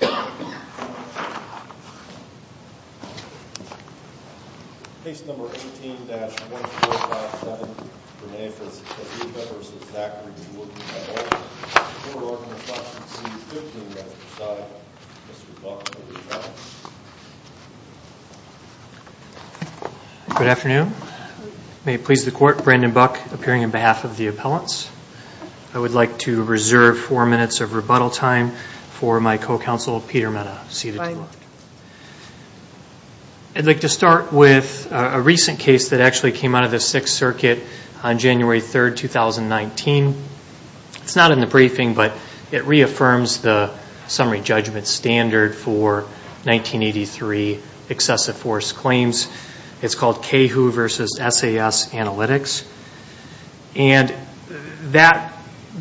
Good afternoon. May it please the court, Brandon Buck, appearing on behalf of the appellants. I would like to reserve four minutes of rebuttal time for my co-counsel, Peter Mehta, seated to the left. I'd like to start with a recent case that actually came out of the Sixth Circuit on January 3, 2019. It's not in the briefing, but it reaffirms the summary judgment standard for 1983 excessive force claims. It's called CAHOO versus SAS Analytics. And that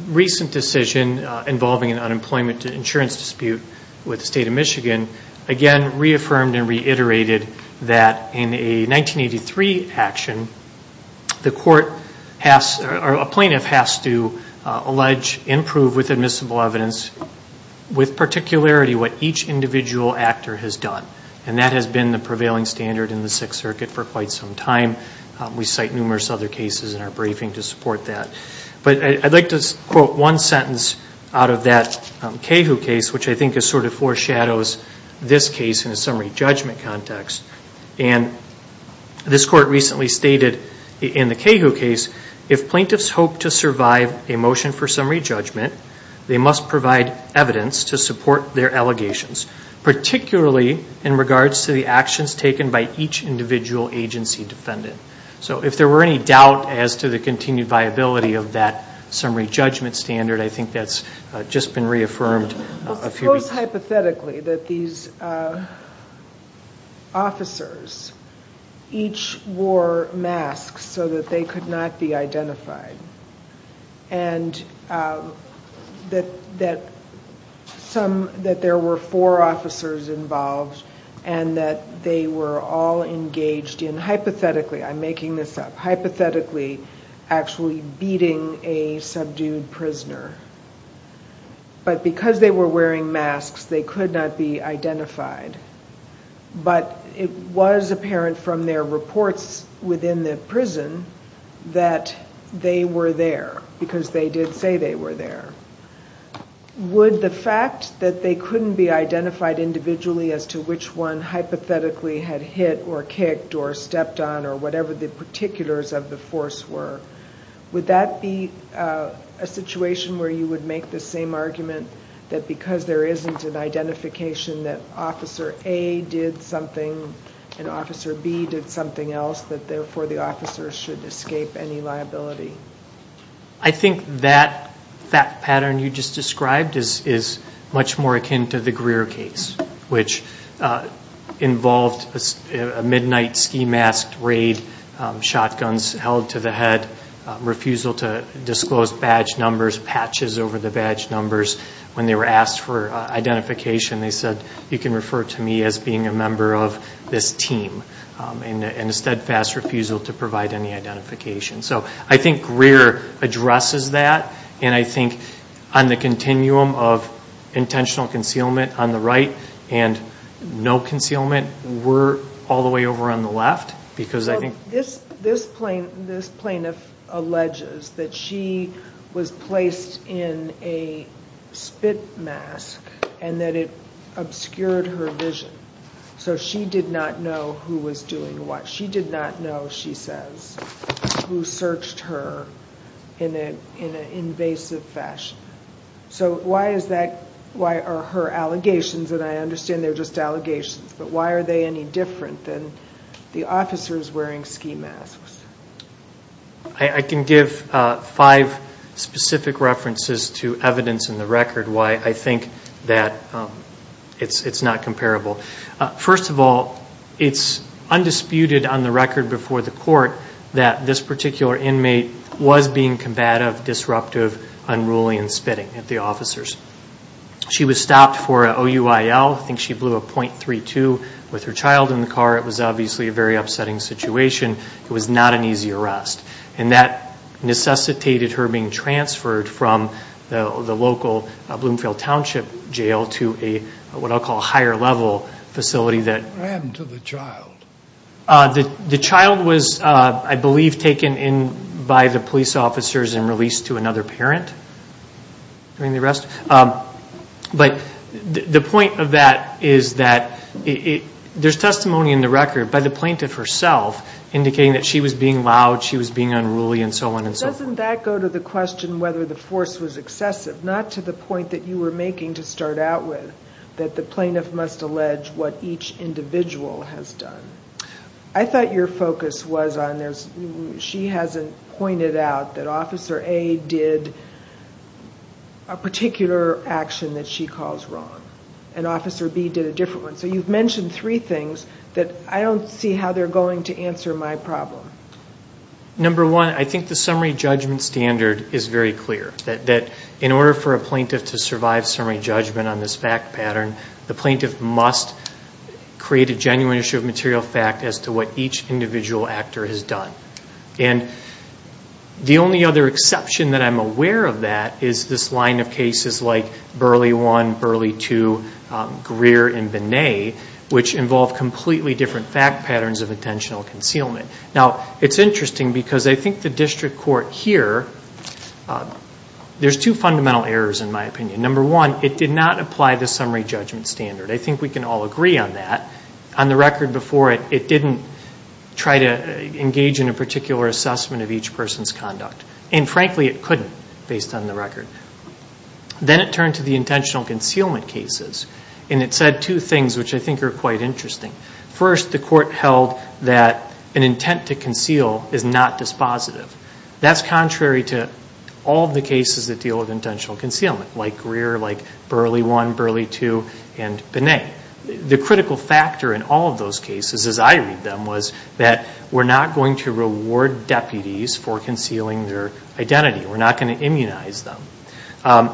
recent decision involving an unemployment insurance dispute with the state of Michigan, again reaffirmed and reiterated that in a 1983 action, a plaintiff has to allege, improve with admissible evidence, with particularity what each individual actor has done. And that has been the prevailing standard in the Sixth Circuit for quite some time. We cite numerous other cases in our briefing to support that. But I'd like to quote one sentence out of that CAHOO case, which I think sort of foreshadows this case in a summary judgment context. And this court recently stated in the CAHOO case, if plaintiffs hope to survive a motion for summary judgment, they must provide evidence to support their allegations, particularly in regards to the actions taken by each individual agency defendant. So if there were any doubt as to the continued viability of that summary judgment standard, I think that's just been reaffirmed. Suppose hypothetically that these officers each wore masks so that they could not be identified. And that there were four officers involved and that they were all engaged in hypothetically, I'm making this up, actually beating a subdued prisoner. But because they were wearing masks, they could not be identified. But it was apparent from their reports within the prison that they were there, because they did say they were there. Would the fact that they couldn't be identified individually as to which one hypothetically had hit or kicked or stepped on or whatever the particulars of the force were, would that be a situation where you would make the same argument that because there isn't an identification that Officer A did something and Officer B did something else, that therefore the officers should escape any liability? I think that pattern you just described is much more akin to the Greer case, which involved a midnight ski mask raid, shotguns held to the head, refusal to disclose badge numbers, patches over the badge numbers. When they were asked for identification, they said, you can refer to me as being a member of this team. And instead, fast refusal to provide any identification. So I think Greer addresses that. And I think on the continuum of intentional concealment on the right and no concealment, we're all the way over on the left. This plaintiff alleges that she was placed in a spit mask and that it obscured her vision. So she did not know who was doing what. She did not know, she says, who searched her in an invasive fashion. So why are her allegations, and I understand they're just allegations, but why are they any different than the officers wearing ski masks? I can give five specific references to evidence in the record why I think that it's not comparable. First of all, it's undisputed on the record before the court that this particular inmate was being combative, disruptive, unruly, and spitting at the officers. She was stopped for an OUIL. I think she blew a .32 with her child in the car. It was obviously a very upsetting situation. It was not an easy arrest. And that necessitated her being transferred from the local Bloomfield Township Jail to a, what I'll call, higher level facility that... What happened to the child? The child was, I believe, taken in by the police officers and released to another parent during the arrest. But the point of that is that there's testimony in the record by the plaintiff herself indicating that she was being loud, she was being unruly, and so on and so forth. Doesn't that go to the question whether the force was excessive? Not to the point that you were making to start out with, that the plaintiff must allege what each individual has done. I thought your focus was on... She hasn't pointed out that Officer A did a particular action that she calls wrong, and Officer B did a different one. So you've mentioned three things that I don't see how they're going to answer my problem. Number one, I think the summary judgment standard is very clear, that in order for a plaintiff to survive summary judgment on this fact pattern, the plaintiff must create a genuine issue of material fact as to what each individual actor has done. And the only other exception that I'm aware of that is this line of cases like Burley 1, Burley 2, Greer, and Binet, which involve completely different fact patterns of intentional concealment. Now, it's interesting because I think the district court here... There's two fundamental errors in my opinion. Number one, it did not apply the summary judgment standard. I think we can all agree on that. On the record before it, it didn't try to engage in a particular assessment of each person's conduct. And frankly, it couldn't, based on the record. Then it turned to the intentional concealment cases, and it said two things which I think are quite interesting. First, the court held that an intent to conceal is not dispositive. That's contrary to all the cases that deal with intentional concealment, like Greer, like Burley 1, Burley 2, and Binet. The critical factor in all of those cases, as I read them, was that we're not going to reward deputies for concealing their identity. We're not going to immunize them.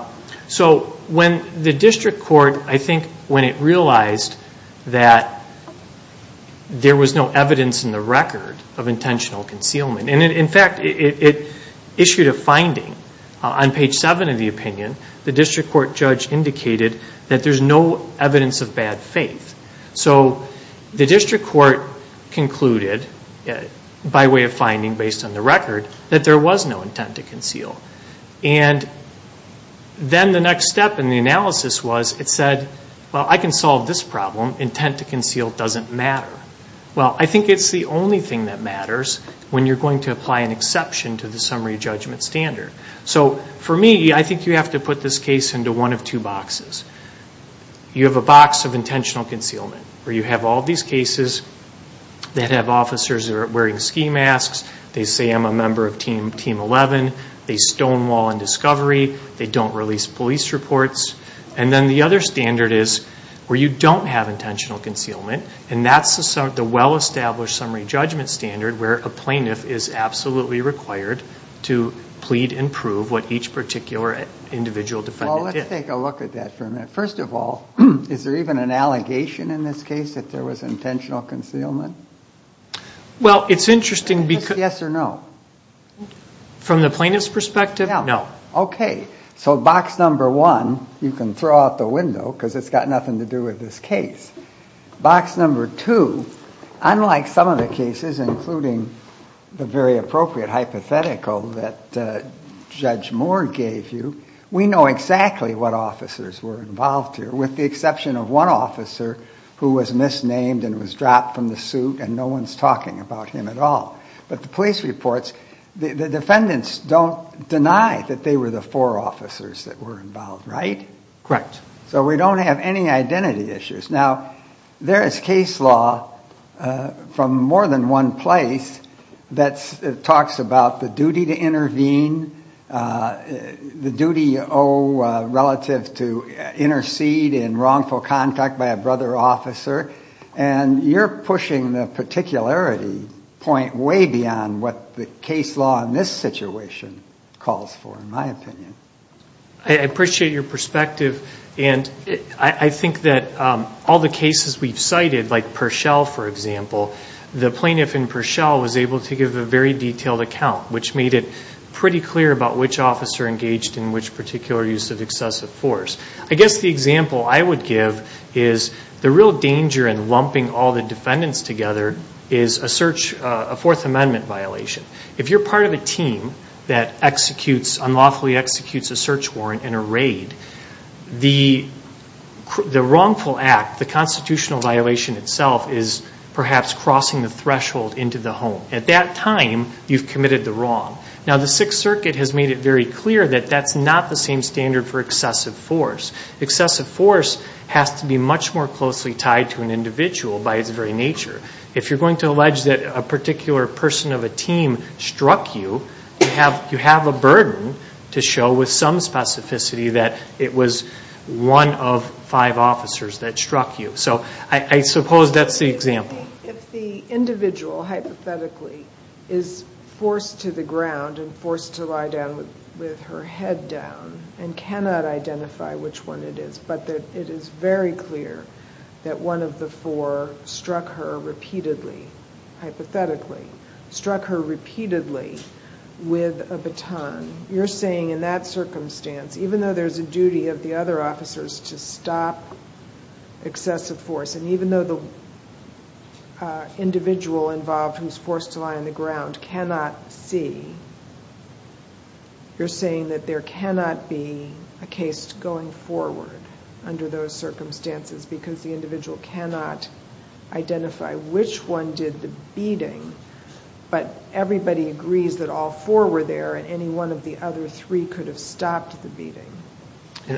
So when the district court, I think when it realized that there was no evidence in the record of intentional concealment, and in fact it issued a finding on page 7 of the opinion, the district court judge indicated that there's no evidence of bad faith. So the district court concluded, by way of finding based on the record, that there was no intent to conceal. And then the next step in the analysis was it said, well, I can solve this problem. Intent to conceal doesn't matter. Well, I think it's the only thing that matters when you're going to apply an exception to the summary judgment standard. So for me, I think you have to put this case into one of two boxes. You have a box of intentional concealment, where you have all these cases that have officers that are wearing ski masks, they say I'm a member of Team 11, they stonewall in discovery, they don't release police reports. And then the other standard is where you don't have intentional concealment, and that's the well-established summary judgment standard where a plaintiff is absolutely required to plead and prove what each particular individual defendant did. Well, let's take a look at that for a minute. First of all, is there even an allegation in this case that there was intentional concealment? Well, it's interesting because... Yes or no? From the plaintiff's perspective, no. Okay. So box number one, you can throw out the window because it's got nothing to do with this case. Box number two, unlike some of the cases, including the very appropriate hypothetical that Judge Moore gave you, we know exactly what officers were involved here, with the exception of one officer who was misnamed and was dropped from the suit and no one's talking about him at all. But the police reports, the defendants don't deny that they were the four officers that were involved, right? Correct. So we don't have any identity issues. Now, there is case law from more than one place that talks about the duty to intervene, the duty you owe relative to intercede in wrongful contact by a brother officer, and you're pushing the particularity point way beyond what the case law in this situation calls for, in my opinion. I appreciate your perspective, and I think that all the cases we've cited, like Perschel, for example, the plaintiff in Perschel was able to give a very detailed account, which made it pretty clear about which officer engaged in which particular use of excessive force. I guess the example I would give is the real danger in lumping all the defendants together is a search, a Fourth Amendment violation. If you're part of a team that executes, unlawfully executes a search warrant in a raid, the wrongful act, the constitutional violation itself is perhaps crossing the threshold into the home. At that time, you've committed the wrong. Now, the Sixth Circuit has made it very clear that that's not the same standard for excessive force. Excessive force has to be much more closely tied to an individual by its very nature. If you're going to allege that a particular person of a team struck you, you have a burden to show with some specificity that it was one of five officers that struck you. So I suppose that's the example. If the individual, hypothetically, is forced to the ground and forced to lie down with her head down and cannot identify which one it is, but it is very clear that one of the four struck her repeatedly, hypothetically, struck her repeatedly with a baton, you're saying in that circumstance, even though there's a duty of the other officers to stop excessive force and even though the individual involved who's forced to lie on the ground cannot see, you're saying that there cannot be a case going forward under those circumstances because the individual cannot identify which one did the beating, but everybody agrees that all four were there and any one of the other three could have stopped the beating.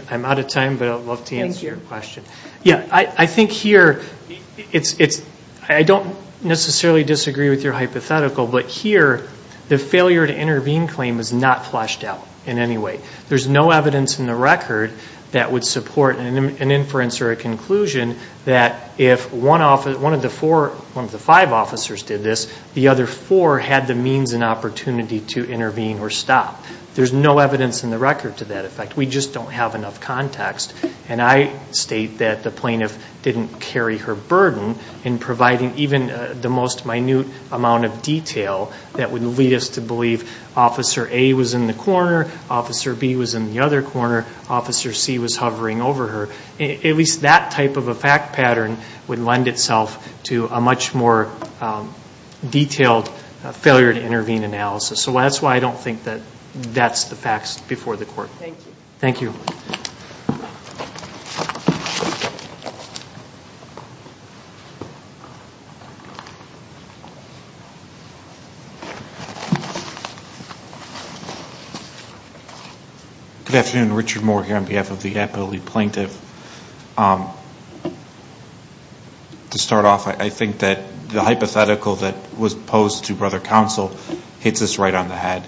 I'm out of time, but I'd love to answer your question. I think here, I don't necessarily disagree with your hypothetical, but here the failure to intervene claim is not fleshed out in any way. There's no evidence in the record that would support an inference or a conclusion that if one of the five officers did this, the other four had the means and opportunity to intervene or stop. There's no evidence in the record to that effect. We just don't have enough context, and I state that the plaintiff didn't carry her burden in providing even the most minute amount of detail that would lead us to believe Officer A was in the corner, Officer B was in the other corner, Officer C was hovering over her. At least that type of a fact pattern would lend itself to a much more detailed failure to intervene analysis. So that's why I don't think that that's the facts before the court. Thank you. Thank you. Good afternoon. Richard Moore here on behalf of the Appellee Plaintiff. To start off, I think that the hypothetical that was posed to Brother Counsel hits us right on the head.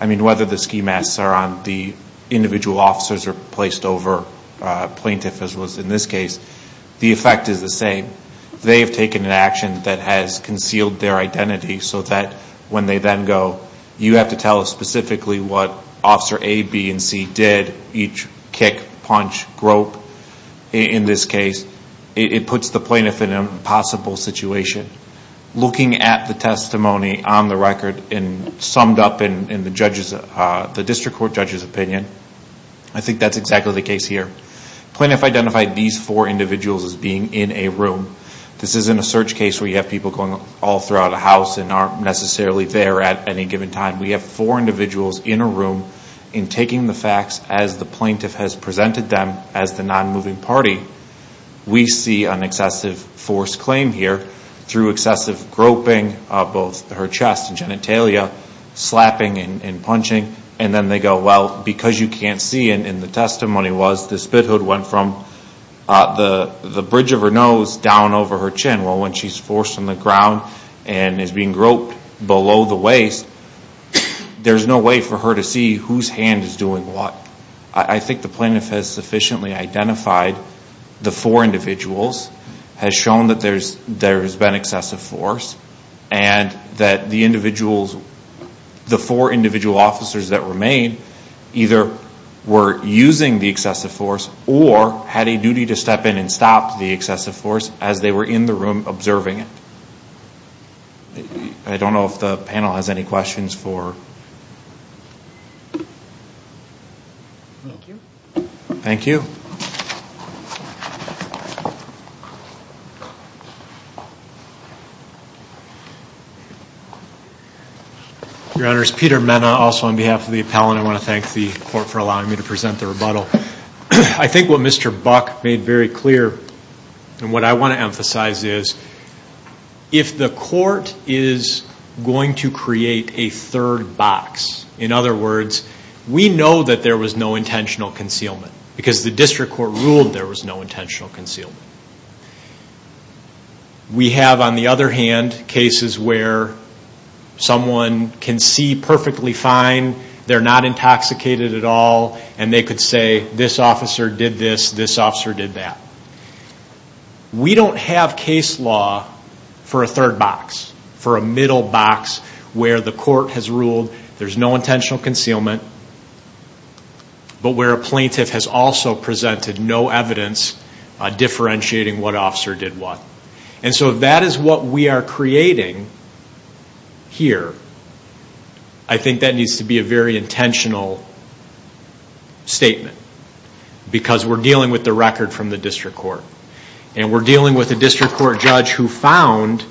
I mean, whether the ski masks are on the individual officers or placed over plaintiff, as was in this case, the effect is the same. They have taken an action that has concealed their identity so that when they then go, you have to tell us specifically what Officer A, B, and C did, each kick, punch, grope in this case. It puts the plaintiff in an impossible situation. Looking at the testimony on the record and summed up in the district court judge's opinion, I think that's exactly the case here. Plaintiff identified these four individuals as being in a room. This isn't a search case where you have people going all throughout a house and aren't necessarily there at any given time. We have four individuals in a room and taking the facts as the plaintiff has presented them as the non-moving party. We see an excessive force claim here through excessive groping of both her chest and genitalia, slapping and punching, and then they go, well, because you can't see, and the testimony was the spit hood went from the bridge of her nose down over her chin. Well, when she's forced on the ground and is being groped below the waist, there's no way for her to see whose hand is doing what. I think the plaintiff has sufficiently identified the four individuals, has shown that there has been excessive force, and that the four individual officers that were made either were using the excessive force or had a duty to step in and stop the excessive force as they were in the room observing it. I don't know if the panel has any questions for? Thank you. Thank you. Your Honors, Peter Mena also on behalf of the appellant. I want to thank the court for allowing me to present the rebuttal. I think what Mr. Buck made very clear and what I want to emphasize is if the court is going to create a third box, in other words, we know that there was no intentional concealment because the district court ruled there was no intentional concealment. We have, on the other hand, cases where someone can see perfectly fine, they're not intoxicated at all, and they could say, this officer did this, this officer did that. We don't have case law for a third box, for a middle box, where the court has ruled there's no intentional concealment, but where a plaintiff has also presented no evidence differentiating what officer did what. And so if that is what we are creating here, I think that needs to be a very intentional statement because we're dealing with the record from the district court. And we're dealing with a district court judge who found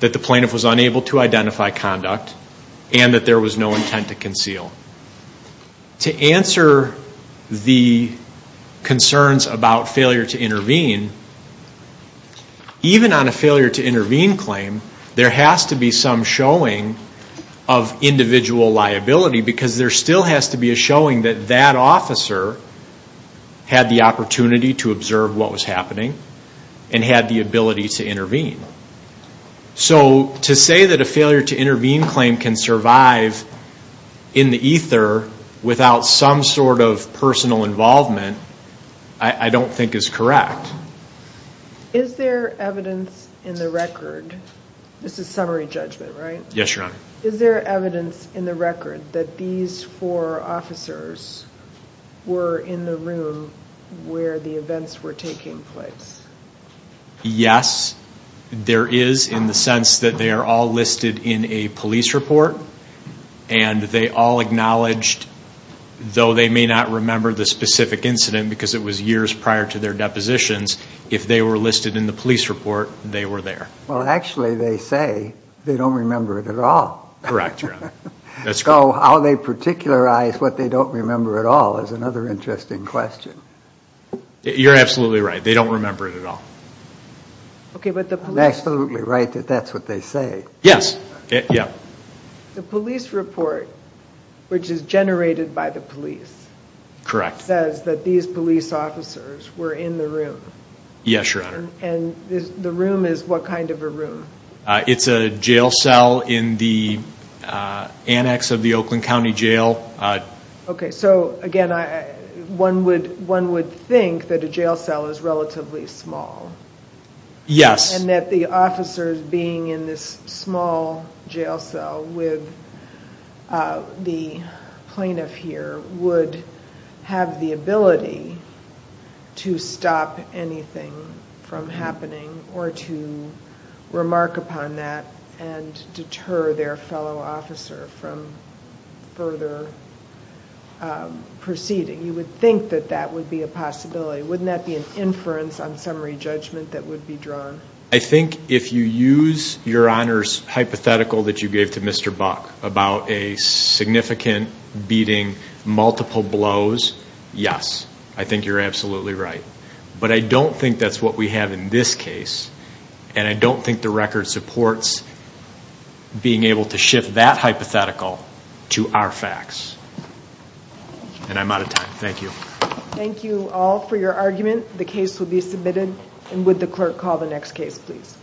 that the plaintiff was unable to identify conduct and that there was no intent to conceal. To answer the concerns about failure to intervene, even on a failure to intervene claim, there has to be some showing of individual liability because there still has to be a showing that that officer had the opportunity to observe what was happening and had the ability to intervene. So to say that a failure to intervene claim can survive in the ether without some sort of personal involvement, I don't think is correct. Is there evidence in the record, this is summary judgment, right? Yes, Your Honor. Is there evidence in the record that these four officers were in the room where the events were taking place? Yes, there is in the sense that they are all listed in a police report and they all acknowledged, though they may not remember the specific incident because it was years prior to their depositions, if they were listed in the police report, they were there. Well, actually they say they don't remember it at all. Correct, Your Honor. So how they particularize what they don't remember at all is another interesting question. You're absolutely right, they don't remember it at all. Okay, but the police... I'm absolutely right that that's what they say. Yes. The police report, which is generated by the police... Correct. ...says that these police officers were in the room. Yes, Your Honor. And the room is what kind of a room? It's a jail cell in the annex of the Oakland County Jail. Okay, so again, one would think that a jail cell is relatively small. Yes. And that the officers being in this small jail cell with the plaintiff here would have the ability to stop anything from happening or to remark upon that and deter their fellow officer from further proceeding. You would think that that would be a possibility. Wouldn't that be an inference on summary judgment that would be drawn? I think if you use Your Honor's hypothetical that you gave to Mr. Buck about a significant beating, multiple blows, yes. I think you're absolutely right. But I don't think that's what we have in this case, and I don't think the record supports being able to shift that hypothetical to our facts. And I'm out of time. Thank you. Thank you all for your argument. The case will be submitted. And would the clerk call the next case, please?